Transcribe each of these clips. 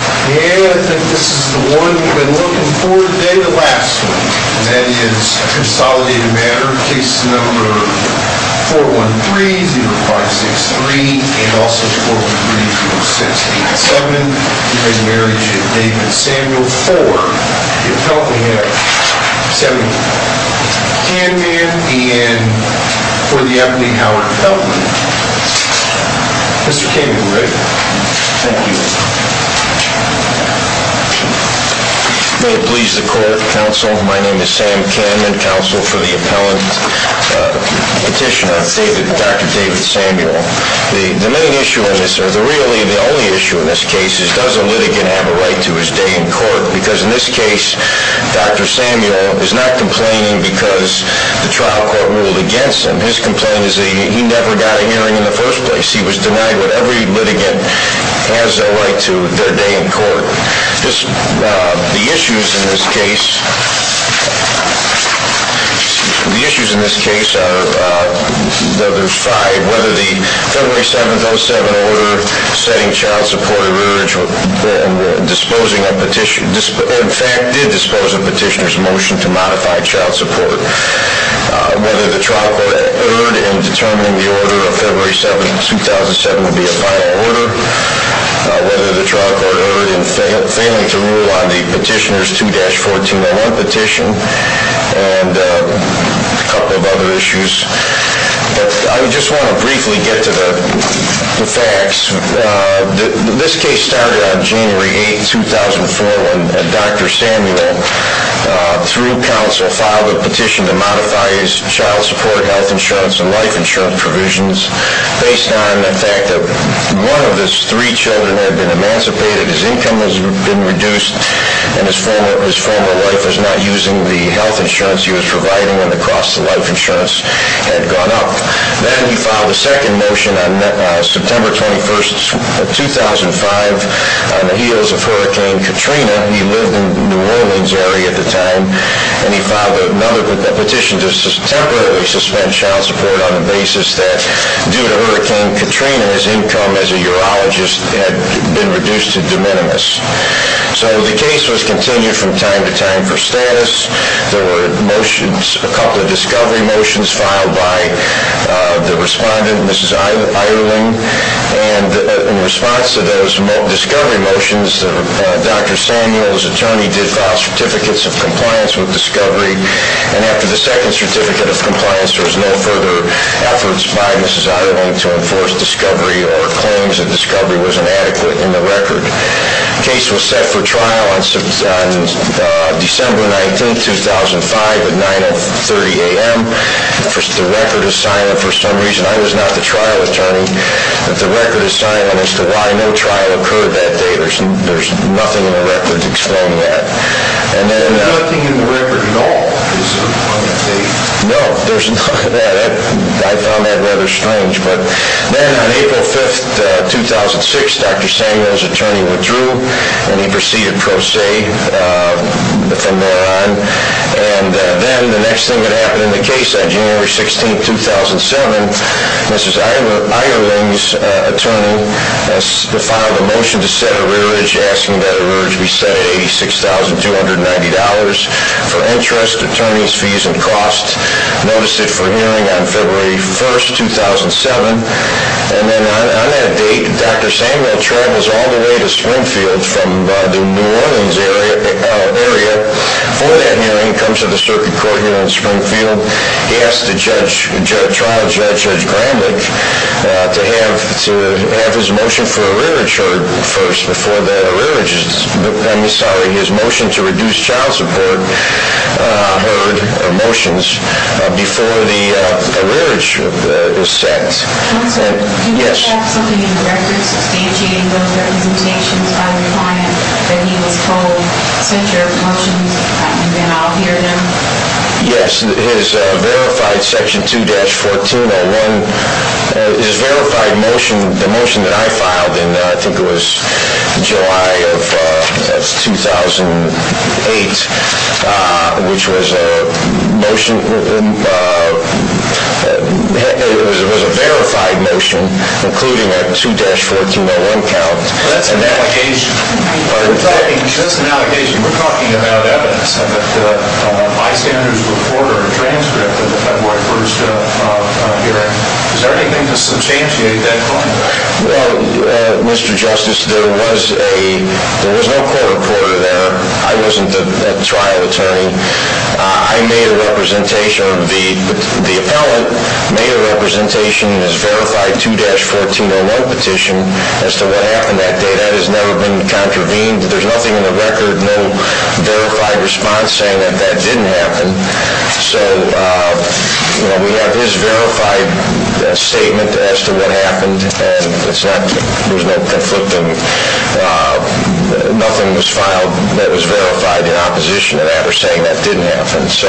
Yeah, I think this is the one we've been looking for today, the last one, and that is Consolidated Matter, case number 413-0563 and also 413-0687, the re-marriage of David Samuel for the appellant Samuel Kahneman and for the appellant Howard Peltman. Mr. Kahneman, are we ready? Thank you. May it please the court, counsel, my name is Sam Kahneman, counsel for the appellant petitioner, Dr. David Samuel. The main issue in this, or really the only issue in this case is does the litigant have a right to his day in court? Because in this case, Dr. Samuel is not complaining because the trial court ruled against him. His complaint is that he never got a hearing in the first place. He was denied what every litigant has a right to their day in court. The issues in this case, the issues in this case are, there's five, whether the February 7th, 07 order setting child support to urge, disposing of petitioner, in fact did dispose of petitioner's motion to modify child support. Whether the trial court erred in determining the order of February 7th, 2007 to be a final order, whether the trial court erred in failing to rule on the petitioner's 2-1401 petition, and a couple of other issues. I just want to briefly get to the facts. This case started on January 8th, 2004 when Dr. Samuel, through counsel, filed a petition to modify his child support, health insurance, and life insurance provisions based on the fact that one of his three children had been emancipated, his income had been reduced, and his former wife was not using the health insurance he was providing and the cost of life insurance. Then he filed a second motion on September 21st, 2005 on the heels of Hurricane Katrina. He lived in the New Orleans area at the time and he filed another petition to temporarily suspend child support on the basis that due to Hurricane Katrina, his income as a urologist had been reduced to de minimis. So the case was continued from time to time for status. There were motions, a couple of discovery motions filed by the respondent, Mrs. Eierling, and in response to those discovery motions, Dr. Samuel's attorney did file certificates of compliance with discovery and after the second certificate of compliance, there was no further efforts by Mrs. Eierling to enforce discovery or claims that discovery was inadequate in the record. The case was set for trial on December 19th, 2005 at 9.30 a.m. The record is silent for some reason. I was not the trial attorney, but the record is silent as to why no trial occurred that day. There's nothing in the record to explain that. There's nothing in the record at all? For interest, attorneys, fees, and costs, notice it for hearing on February 1st, 2007. And then on that date, Dr. Samuel travels all the way to Springfield from the New Orleans area for that hearing, comes to the circuit court here in Springfield. He asks the trial judge, Judge Gramlich, to have his motion for a rearage heard first before the rearage is set. I'm sorry, his motion to reduce child support heard motions before the rearage is set. Counselor? Yes. Do you have something in the record substantiating those representations by the respondent that he was told, send your motions and then I'll hear them? Yes. His verified section 2-1401, his verified motion, the motion that I filed in, I think it was July of 2008, which was a motion, it was a verified motion, including a 2-1401 count. That's an allegation. We're talking about evidence of a bystander's report or transcript of the February 1st hearing. Is there anything to substantiate that claim? Well, Mr. Justice, there was no court reporter there. I wasn't the trial attorney. I made a representation, or the appellant made a representation in his verified 2-1401 petition as to what happened that day. That has never been contravened. There's nothing in the record, no verified response saying that that didn't happen. So we have his verified statement as to what happened, and there was no conflicting, nothing was filed that was verified in opposition to that or saying that didn't happen. So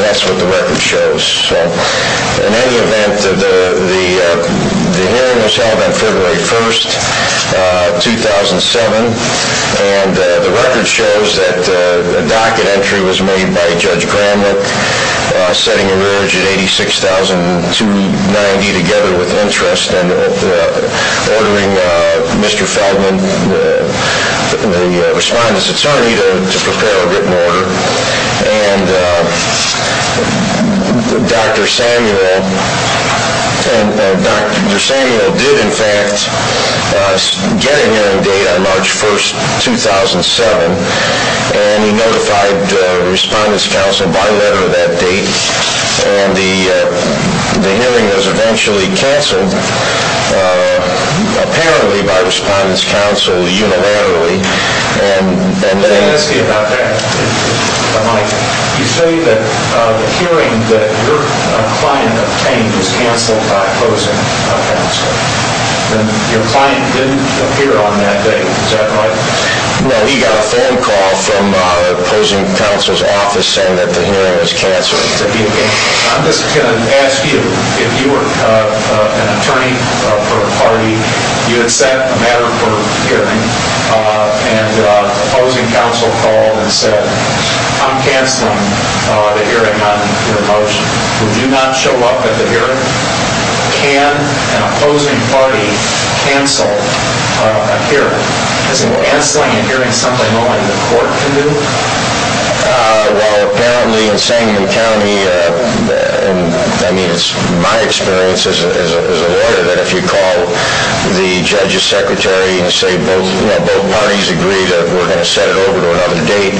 that's what the record shows. In any event, the hearing was held on February 1st, 2007, and the record shows that a docket entry was made by Judge Gramlich, setting a verge at $86,290 together with interest and ordering Mr. Feldman, the Respondent's attorney, to prepare a written order, and Dr. Samuel did, in fact, get a hearing date on March 1st, 2007, and he notified Respondent's counsel by letter that date. And the hearing was eventually canceled, apparently by Respondent's counsel unilaterally. Let me ask you about that, Mike. You say that the hearing that your client obtained was canceled by opposing counsel, and your client didn't appear on that date. Is that right? No, he got a phone call from opposing counsel's office saying that the hearing was canceled. Well, apparently in Sangamon County, I mean, it's my experience as a lawyer that if you call the judge's secretary and say both parties agree that we're going to set it over to another date,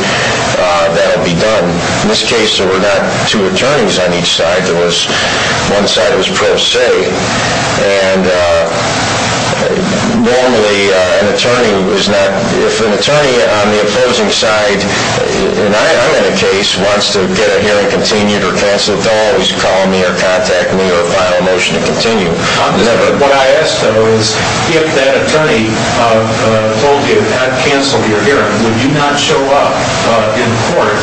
that'll be done. In this case, there were not two attorneys on each side. One side was pro se, and normally, if an attorney on the opposing side, and I'm in a case, wants to get a hearing continued or canceled, they'll always call me or contact me or file a motion to continue. What I ask, though, is if that attorney told you it had canceled your hearing, would you not show up in court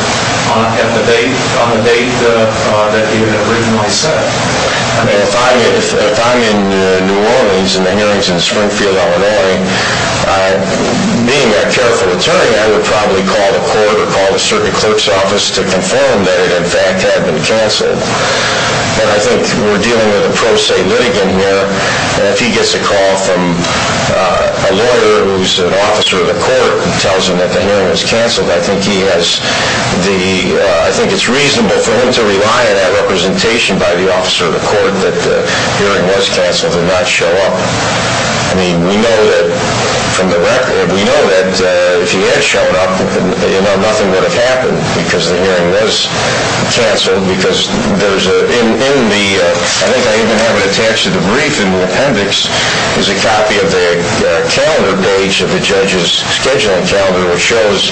on the date that he had originally set it? I mean, if I'm in New Orleans and the hearing's in Springfield, L.A., being that careful attorney, I would probably call the court or call a certain clerk's office to confirm that it, in fact, had been canceled. But I think we're dealing with a pro se litigant here, and if he gets a call from a lawyer who's an officer of the court and tells him that the hearing was canceled, I think it's reasonable for him to rely on that representation by the officer of the court that the hearing was canceled and not show up. I mean, we know that from the record, we know that if he had shown up, nothing would have happened because the hearing was canceled. I think I even have it attached to the brief in the appendix is a copy of the calendar page of the judge's scheduling calendar, which shows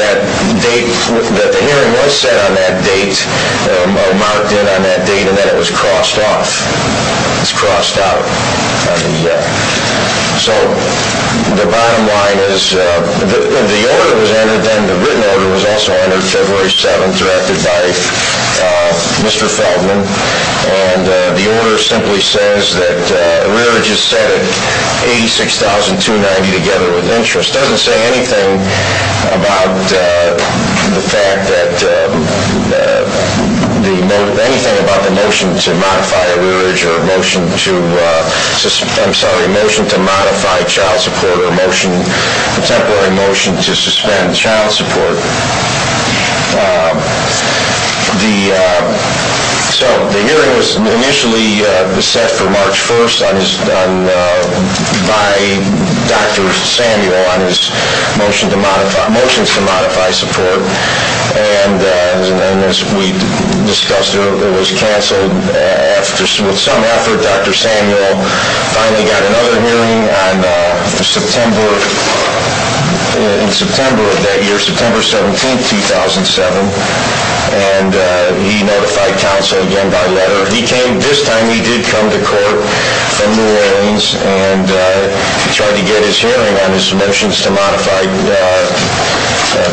that the hearing was set on that date, or marked in on that date, and then it was crossed off. So the bottom line is, the order was entered, and the written order was also entered February 7th, directed by Mr. Feldman, and the order simply says that a rearage is set at $86,290 together with interest. It just doesn't say anything about the notion to modify a rearage or a motion to modify child support or a contemporary motion to suspend child support. So the hearing was initially set for March 1st by Dr. Samuel on his motions to modify support, and as we discussed, it was canceled with some effort. Dr. Samuel finally got another hearing in September of that year, September 17th, 2007, and he notified counsel again by letter. This time he did come to court in New Orleans, and he tried to get his hearing on his motions to modify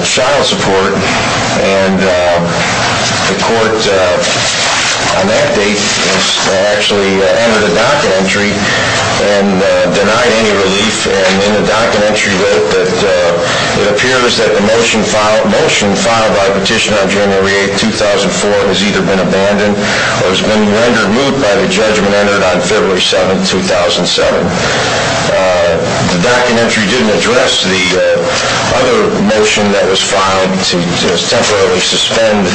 child support, and the court on that date actually entered a docket entry and denied any relief. In the docket entry, it appears that the motion filed by Petitioner on January 8th, 2004, has either been abandoned or has been rendered moot by the judgment entered on February 7th, 2007. The docket entry didn't address the other motion that was filed to temporarily suspend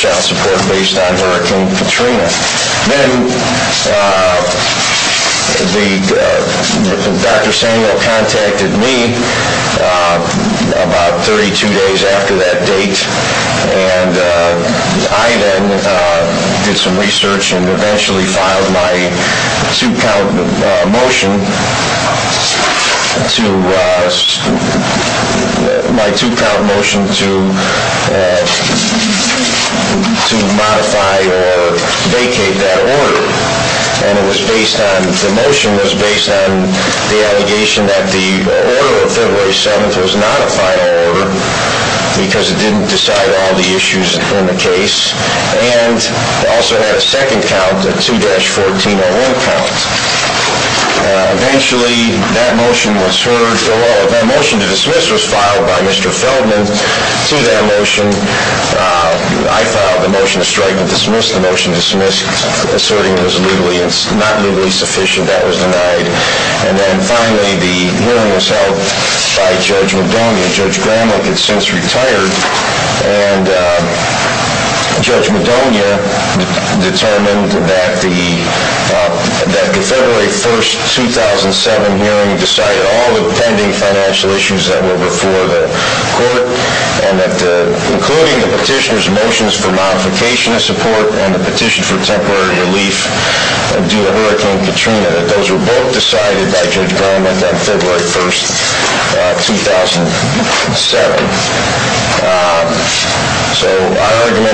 child support based on Hurricane Katrina. Then Dr. Samuel contacted me about 32 days after that date, and I then did some research and eventually filed my two-count motion to modify or abdicate that order, and the motion was based on the allegation that the order of February 7th was not a final order because it didn't decide all the issues in the case, and it also had a second count, a 2-1401 count. Eventually, that motion to dismiss was filed by Mr. Feldman to that motion. I filed the motion to strike to dismiss. The motion to dismiss, asserting it was not legally sufficient, that was denied. Finally, the hearing was held by Judge Madonia. Judge Gramlick had since retired, and Judge Madonia determined that the February 1st, 2007 hearing decided all the pending financial issues that were before the court, including the petitioner's motions for modification of support and the petition for temporary relief due to Hurricane Katrina, that those were both decided by Judge Gramlick on February 1st, 2007.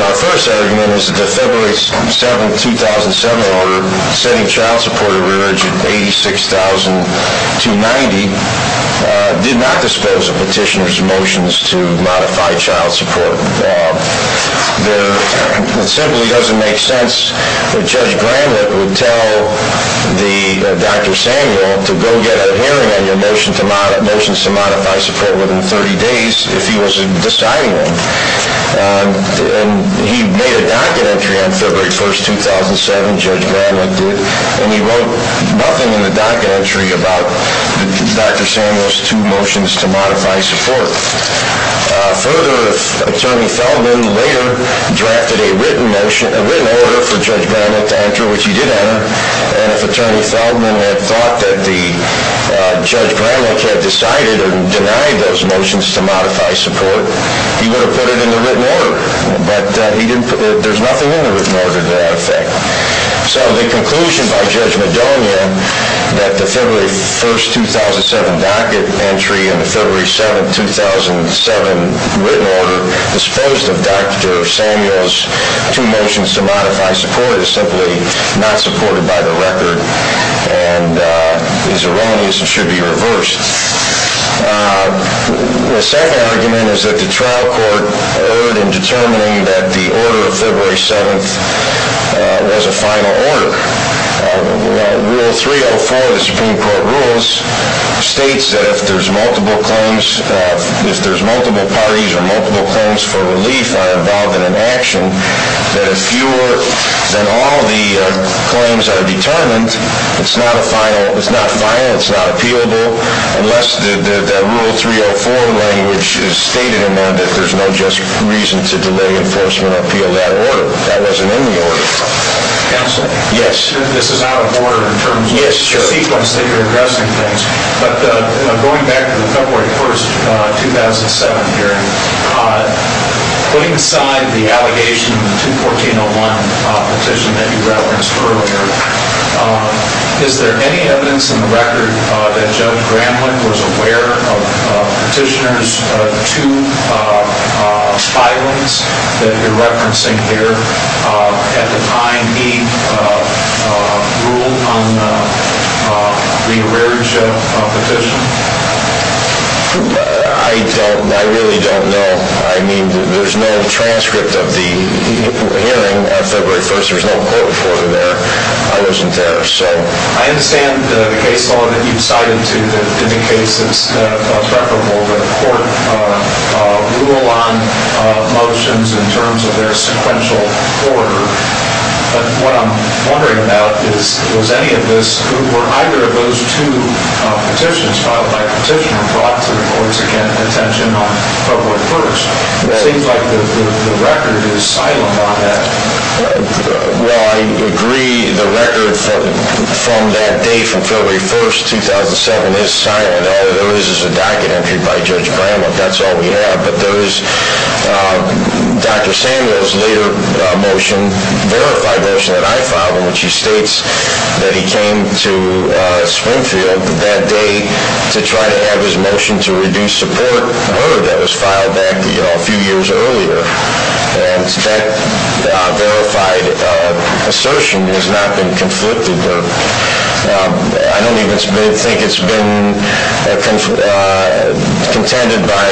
Our first argument was that the February 7th, 2007 order, setting child support at $86,290, did not dispose of petitioner's motions to modify child support. It simply doesn't make sense that Judge Gramlick would tell Dr. Samuel to go get a hearing on your motions to modify support within 30 days if he was deciding them. He made a docket entry on February 1st, 2007, Judge Gramlick did, and he wrote nothing in the docket entry about Dr. Samuel's two motions to modify support. Further, if Attorney Feldman later drafted a written order for Judge Gramlick to enter, which he did enter, and if Attorney Feldman had thought that Judge Gramlick had decided and denied those motions to modify support, he would have put it in the written order. But there's nothing in the written order to that effect. So the conclusion by Judge Madonia that the February 1st, 2007 docket entry and the February 7th, 2007 written order disposed of Dr. Samuel's two motions to modify support is simply not supported by the record and is erroneous and should be reversed. The second argument is that the trial court erred in determining that the order of February 7th was a final order. Rule 304 of the Supreme Court rules states that if there's multiple parties or multiple claims for relief are involved in an action, that if fewer than all the claims are determined, it's not final, it's not appealable, unless that Rule 304 language is stated in there that there's no just reason to delay enforcement appeal that order. That wasn't in the order. Counsel? Yes. This is out of order in terms of the sequence that you're addressing things. But going back to the February 1st, 2007 hearing, putting aside the allegation of the 214-01 petition that you referenced earlier, is there any evidence in the record that Judge Gramlick was aware of petitioners' two filings that you're referencing here? At the time he ruled on the rearage of a petition? I don't. I really don't know. I mean, there's no transcript of the hearing on February 1st. There's no court report in there. I wasn't there. I understand the case law that you've cited, too, indicates it's preferable that a court rule on motions in terms of their sequential order. But what I'm wondering about is, was any of this, were either of those two petitions filed by a petitioner brought to the court's attention on February 1st? It seems like the record is silent on that. Well, I agree the record from that day, from February 1st, 2007, is silent. All there is is a docket entry by Judge Gramlick. That's all we have. But there is Dr. Samuel's later motion, verified motion that I filed in which he states that he came to Swinfield that day to try to have his motion to reduce support heard. That was filed back a few years earlier. And that verified assertion has not been conflicted with. I don't even think it's been contended by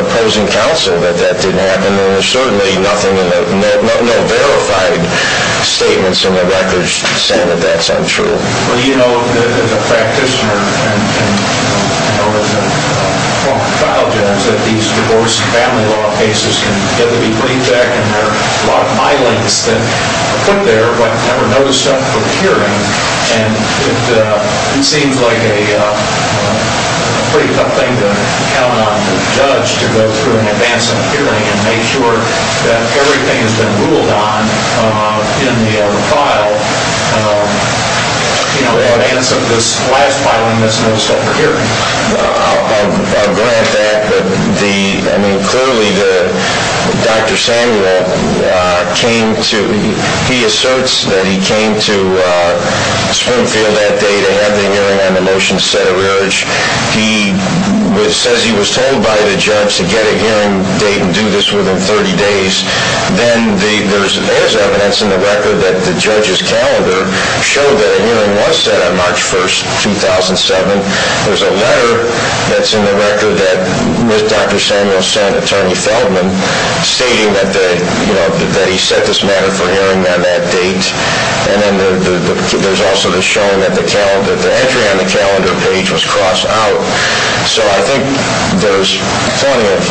opposing counsel that that didn't happen. And there's certainly no verified statements in the record saying that that's untrue. Well, you know, as a practitioner and a file judge, that these divorce and family law cases can get to be briefed back. And there are a lot of my links that are put there, but never noticed up for the hearing. And it seems like a pretty tough thing to count on the judge to go through and advance a hearing and make sure that everything has been ruled on in the file in advance of this last filing that's noticed up for hearing. I'll grant that. But, I mean, clearly, Dr. Samuel came to – he asserts that he came to Swinfield that day to have the hearing on the motion set at rearage. He says he was told by the judge to get a hearing date and do this within 30 days. Then there's evidence in the record that the judge's calendar showed that a hearing was set on March 1, 2007. There's a letter that's in the record that Dr. Samuel sent Attorney Feldman stating that he set this matter for hearing on that date. And then there's also the showing that the entry on the calendar page was crossed out. So I think there's plenty of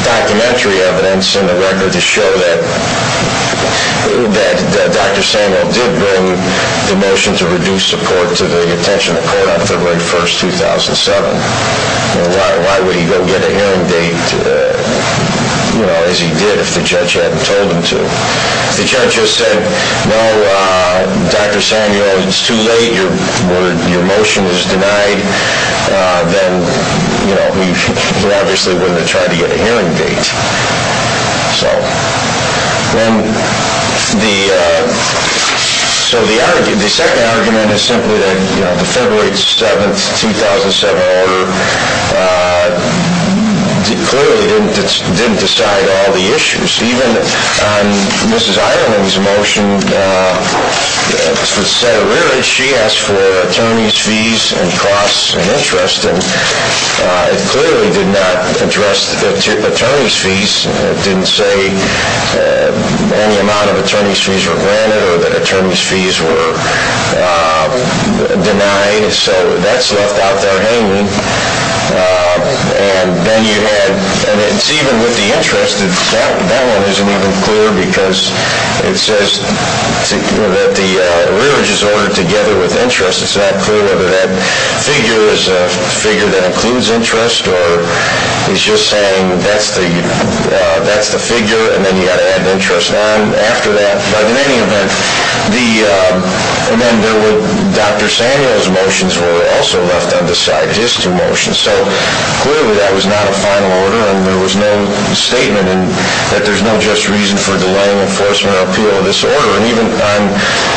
documentary evidence in the record to show that Dr. Samuel did bring the motion to reduce support to the attention of the court on February 1, 2007. Why would he go get a hearing date as he did if the judge hadn't told him to? The judge just said, no, Dr. Samuel, it's too late. Your motion was denied. Then, you know, he obviously wouldn't have tried to get a hearing date. So the second argument is simply that the February 7, 2007 order clearly didn't decide all the issues. Even on Mrs. Ireland's motion, she asked for attorney's fees and costs and interest, and it clearly did not address the attorney's fees. It didn't say any amount of attorney's fees were granted or that attorney's fees were denied. So that's left out there hanging. And then you had, and it's even with the interest, that one isn't even clear because it says that the rearage is ordered together with interest. It's not clear whether that figure is a figure that includes interest or he's just saying that's the figure and then you've got to add interest on after that. But in any event, the, and then there were Dr. Samuel's motions were also left undecided, his two motions. So clearly that was not a final order and there was no statement that there's no just reason for delaying enforcement or appeal of this order. And even, I'm.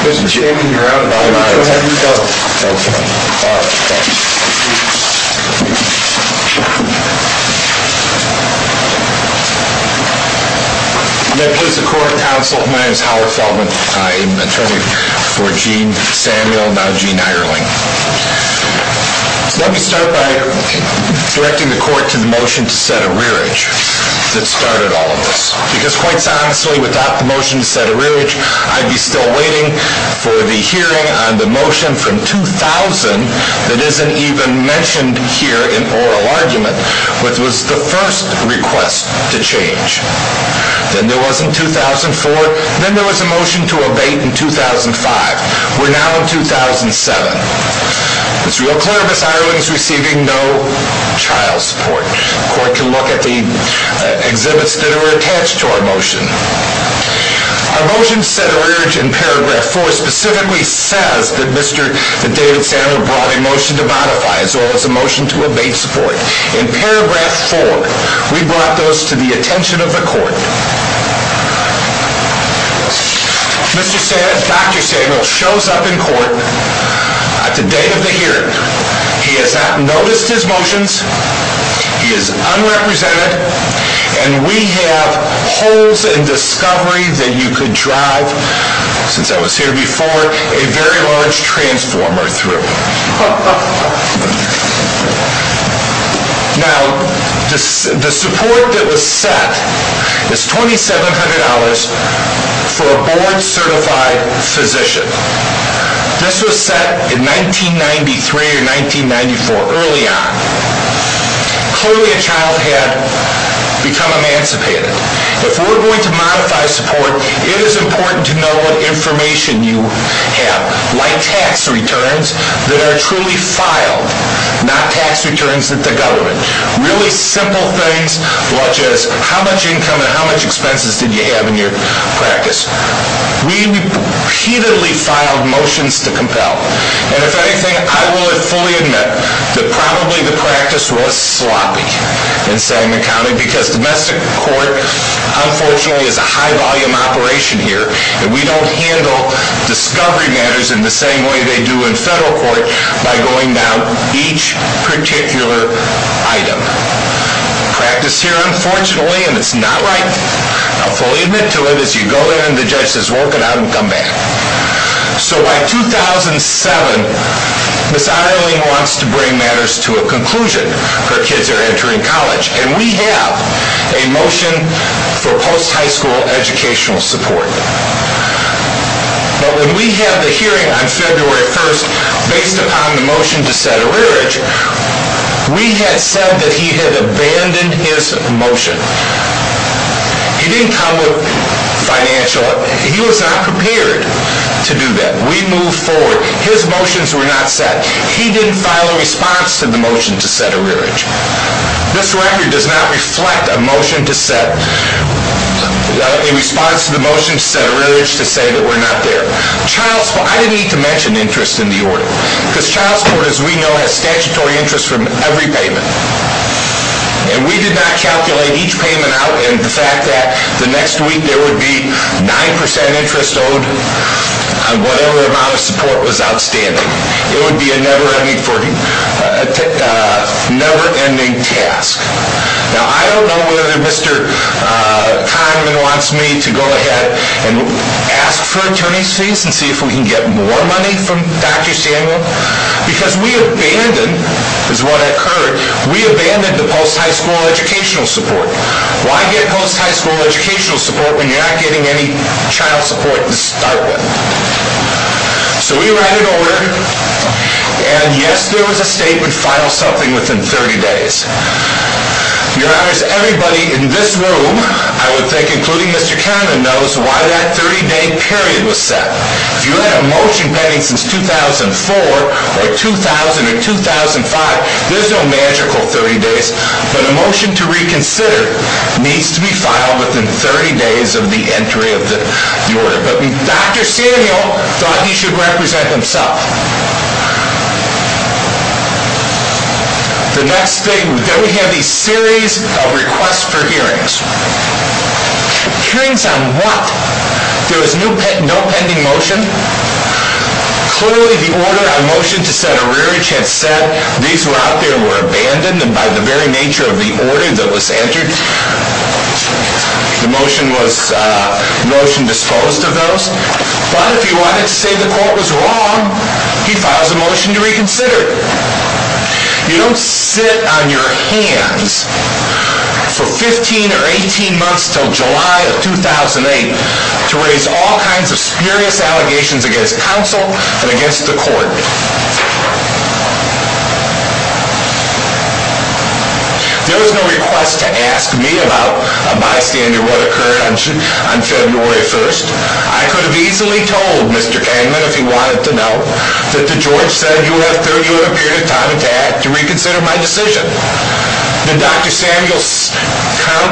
Mr. Chairman, you're out of time. Okay. All right. Thanks. Thank you. May it please the court and counsel, my name is Howard Feldman. I am attorney for Jean Samuel, now Jean Ireland. Let me start by directing the court to the motion to set a rearage that started all of this. Because quite honestly, without the motion to set a rearage, I'd be still waiting for the hearing on the motion from 2000 that isn't even mentioned here in oral argument, which was the first request to change. Then there was in 2004. Then there was a motion to abate in 2005. We're now in 2007. It's real clear Miss Ireland's receiving no child support. The court can look at the exhibits that are attached to our motion. Our motion to set a rearage in paragraph four specifically says that David Samuel brought a motion to modify as well as a motion to abate support. In paragraph four, we brought those to the attention of the court. Mr. Samuel, Dr. Samuel shows up in court at the day of the hearing. He has not noticed his motions. He is unrepresented. And we have holes in discovery that you could drive, since I was here before, a very large transformer through. Now, the support that was set is $2,700 for a board certified physician. This was set in 1993 or 1994, early on. Clearly a child had become emancipated. If we're going to modify support, it is important to know what information you have. Like tax returns that are truly filed, not tax returns that the government. Really simple things, such as how much income and how much expenses did you have in your practice. We repeatedly filed motions to compel. And if anything, I will fully admit that probably the practice was sloppy in Sangamon County. Because domestic court, unfortunately, is a high volume operation here. And we don't handle discovery matters in the same way they do in federal court by going down each particular item. Practice here, unfortunately, and it's not right. I'll fully admit to it as you go there and the judge says, work it out and come back. So by 2007, Ms. Ireland wants to bring matters to a conclusion. Her kids are entering college. And we have a motion for post-high school educational support. But when we had the hearing on February 1st, based upon the motion to set a rearage, we had said that he had abandoned his motion. He didn't come with financial. He was not prepared to do that. We moved forward. His motions were not set. He didn't file a response to the motion to set a rearage. This record does not reflect a motion to set, a response to the motion to set a rearage to say that we're not there. Child support, I didn't need to mention interest in the order. Because child support, as we know, has statutory interest from every payment. And we did not calculate each payment out in the fact that the next week there would be 9% interest owed on whatever amount of support was outstanding. It would be a never-ending task. Now, I don't know whether Mr. Kahneman wants me to go ahead and ask for attorney's fees and see if we can get more money from Dr. Samuel. Because we abandoned, is what I heard, we abandoned the post-high school educational support. Why get post-high school educational support when you're not getting any child support to start with? So we ran an order. And yes, there was a statement, file something within 30 days. Your Honors, everybody in this room, I would think, including Mr. Kahneman, knows why that 30-day period was set. If you had a motion pending since 2004 or 2000 or 2005, there's no magical 30 days. But a motion to reconsider needs to be filed within 30 days of the entry of the order. But Dr. Samuel thought he should represent himself. The next thing, then we have these series of requests for hearings. Hearings on what? There was no pending motion. Clearly, the order on motion to set a rearage had said these were out there and were abandoned. And by the very nature of the order that was entered, the motion was motion disposed of those. But if you wanted to say the court was wrong, he files a motion to reconsider. You don't sit on your hands for 15 or 18 months until July of 2008 to raise all kinds of spurious allegations against counsel and against the court. There was no request to ask me about, bystander, what occurred on February 1st. I could have easily told Mr. Kahneman, if he wanted to know, that the judge said he would have a period of time to reconsider my decision. Did Dr. Samuel come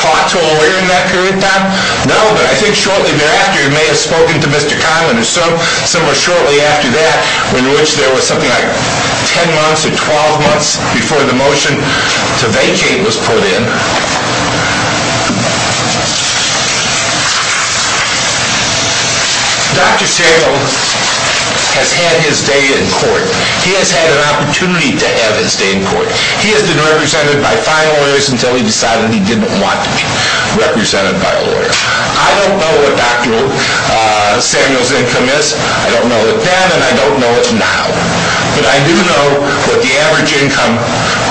talk to a lawyer in that period of time? No, but I think shortly thereafter he may have spoken to Mr. Kahneman. And so, somewhere shortly after that, in which there was something like 10 months or 12 months before the motion to vacate was put in, Dr. Samuel has had his day in court. He has had an opportunity to have his day in court. He has been represented by five lawyers until he decided he didn't want to be represented by a lawyer. I don't know what Dr. Samuel's income is. I don't know it then, and I don't know it now. But I do know what the average income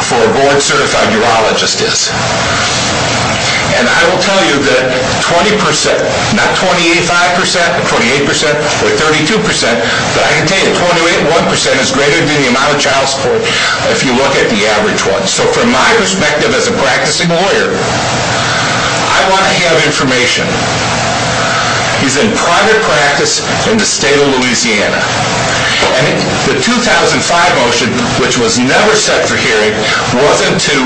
for a board-certified urologist is. And I will tell you that 20%, not 28.5%, 28%, or 32%, but I can tell you that 28.1% is greater than the amount of child support if you look at the average one. So, from my perspective as a practicing lawyer, I want to have information. He's in private practice in the state of Louisiana. And the 2005 motion, which was never set for hearing, wasn't to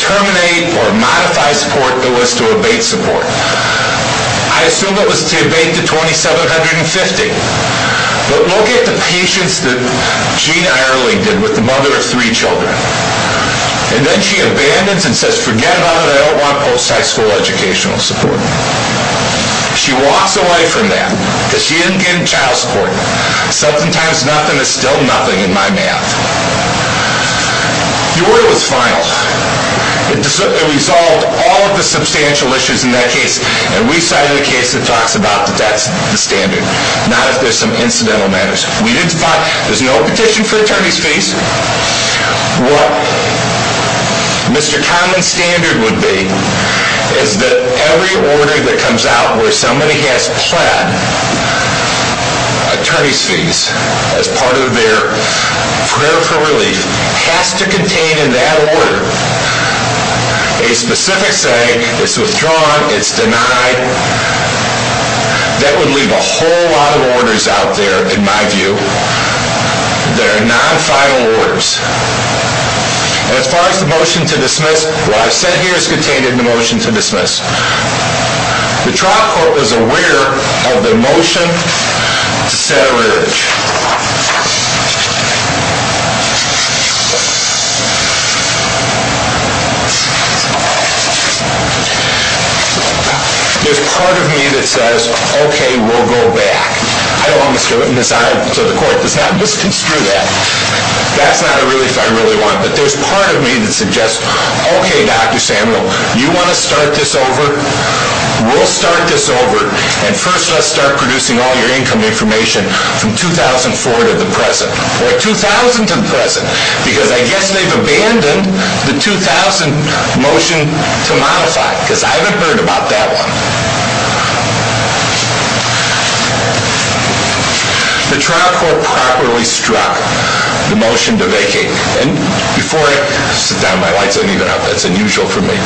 terminate or modify support. It was to abate support. I assume it was to abate to 2,750. But look at the patients that Jean Ireland did with the mother of three children. And then she abandons and says, forget about it. I don't want post-high school educational support. She walks away from that because she didn't get any child support. Sometimes nothing is still nothing in my math. The order was final. It resolved all of the substantial issues in that case. And we cited a case that talks about that that's the standard, not if there's some incidental matters. There's no petition for attorney's fees. What Mr. Kahneman's standard would be is that every order that comes out where somebody has pled attorney's fees as part of their prayer for relief has to contain in that order a specific saying, it's withdrawn, it's denied. That would leave a whole lot of orders out there, in my view, that are non-final orders. And as far as the motion to dismiss, what I've said here is contained in the motion to dismiss. The trial court was aware of the motion to set a ridge. There's part of me that says, okay, we'll go back. I don't want to screw it, and so the court does not want to screw that. That's not a relief I really want. But there's part of me that suggests, okay, Dr. Samuel, you want to start this over? We'll start this over. And first, let's start producing all your income information from 2004 to the present. Or 2000 to the present, because I guess they've abandoned the 2000 motion to modify, because I haven't heard about that one. The trial court properly struck the motion to vacate. And before I sit down, my lights aren't even up. That's unusual for me.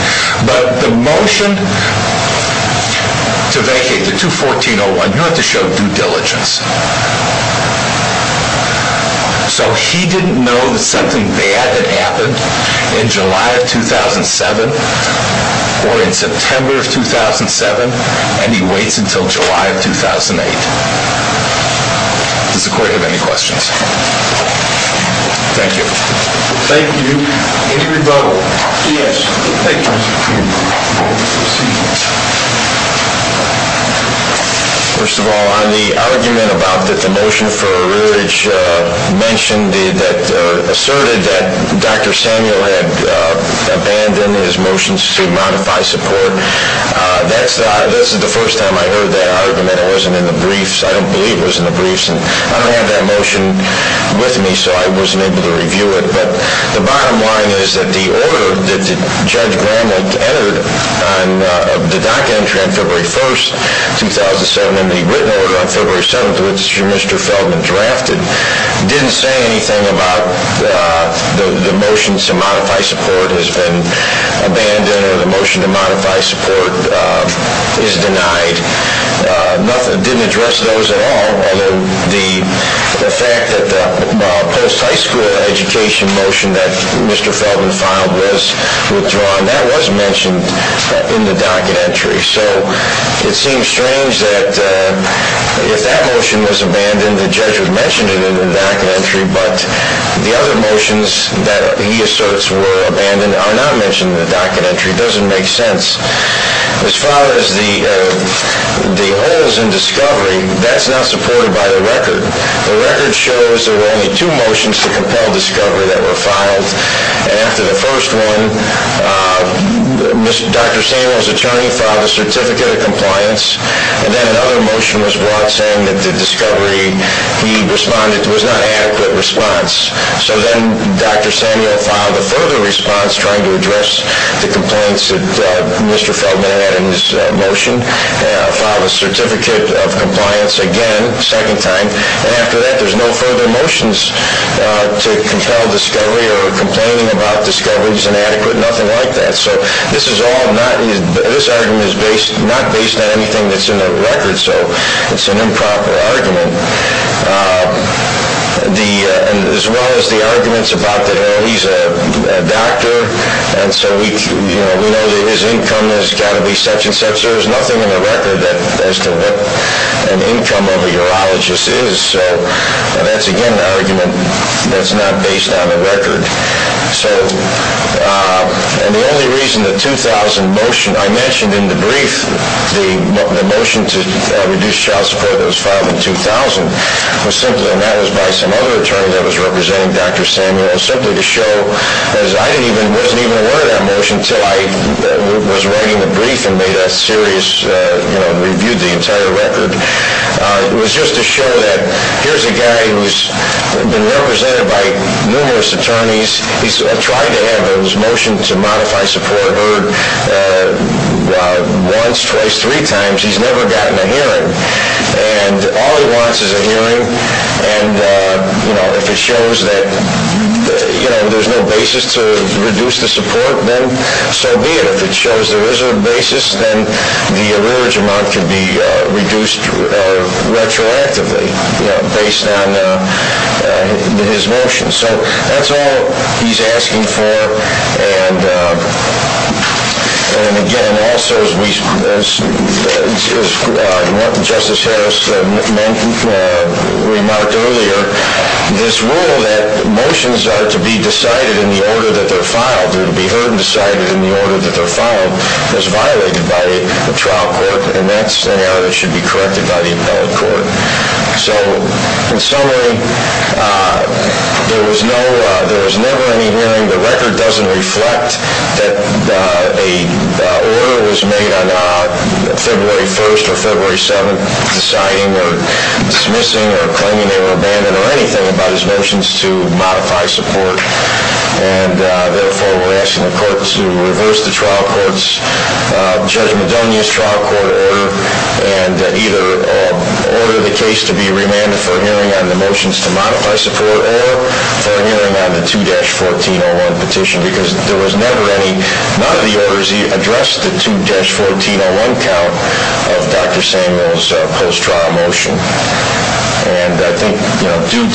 But the motion to vacate, the 214-01, you have to show due diligence. So he didn't know that something bad had happened in July of 2007 or in September of 2007. And he waits until July of 2008. Does the court have any questions? Thank you. Thank you. Any rebuttal? Yes. Thank you. The court will proceed. The motion that was entered on the docket entry on February 1, 2007, and the written order on February 7, which Mr. Feldman drafted, didn't say anything about the motion to modify support has been abandoned or the motion to modify support is denied. Nothing. Didn't address those at all. Although the fact that the post-high school education motion that Mr. Feldman filed was withdrawn, that was mentioned in the docket entry. So it seems strange that if that motion was abandoned, the judge would mention it in the docket entry, but the other motions that he asserts were abandoned are not mentioned in the docket entry. It doesn't make sense. As far as the holes in discovery, that's not supported by the record. The record shows there were only two motions to compel discovery that were filed, and after the first one, Dr. Samuel's attorney filed a certificate of compliance, and then another motion was brought saying that the discovery he responded to was not an adequate response. So then Dr. Samuel filed a further response trying to address the complaints that Mr. Feldman had in his motion, filed a certificate of compliance again a second time, and after that there's no further motions to compel discovery or complaining about discovery is inadequate, nothing like that. So this argument is not based on anything that's in the record, so it's an improper argument. As well as the arguments about that he's a doctor and so we know that his income has got to be such and such, there's nothing in the record as to what an income of a urologist is, so that's again an argument that's not based on the record. And the only reason the 2000 motion, I mentioned in the brief, the motion to reduce child support that was filed in 2000, was simply, and that was by some other attorney that was representing Dr. Samuel, simply to show that I wasn't even aware of that motion until I was writing the brief and reviewed the entire record, was just to show that here's a guy who's been represented by numerous attorneys, he's tried to have those motions to modify support heard once, twice, three times, he's never gotten a hearing. And all he wants is a hearing and if it shows that there's no basis to reduce the support, then so be it. But if it shows there is a basis, then the allurage amount can be reduced retroactively based on his motion. So that's all he's asking for and again, also as Justice Harris remarked earlier, this rule that motions are to be decided in the order that they're filed or to be heard and decided in the order that they're filed was violated by the trial court and that's an error that should be corrected by the appellate court. So in summary, there was never any hearing. The record doesn't reflect that an order was made on February 1st or February 7th or dismissing or claiming they were abandoned or anything about his motions to modify support. And therefore, we're asking the court to reverse the trial court's, Judge Madonia's trial court order and either order the case to be remanded for hearing on the motions to modify support or for hearing on the 2-1401 petition because there was never any. None of the orders he addressed the 2-1401 count of Dr. Samuel's post-trial motion. And I think due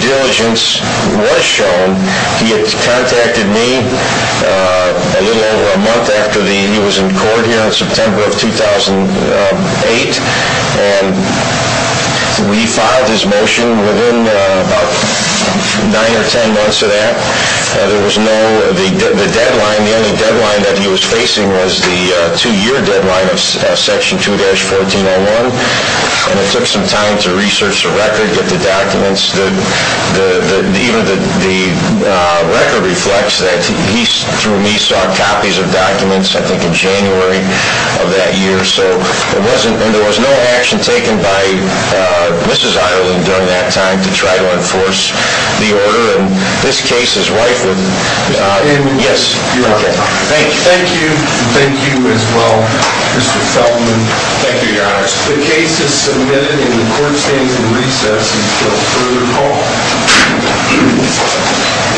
diligence was shown. He had contacted me a little over a month after he was in court here in September of 2008 and we filed his motion within about nine or ten months of that. The deadline, the only deadline that he was facing was the two-year deadline of Section 2-1401 and it took some time to research the record, get the documents. Even the record reflects that he saw copies of documents I think in January of that year. So there was no action taken by Mrs. Ireland during that time to try to enforce the order and this case is rightfully, yes, your honor. Thank you. Thank you. Thank you as well, Mr. Feldman. Thank you, your honor. The case is submitted and the court stands in recess until further call.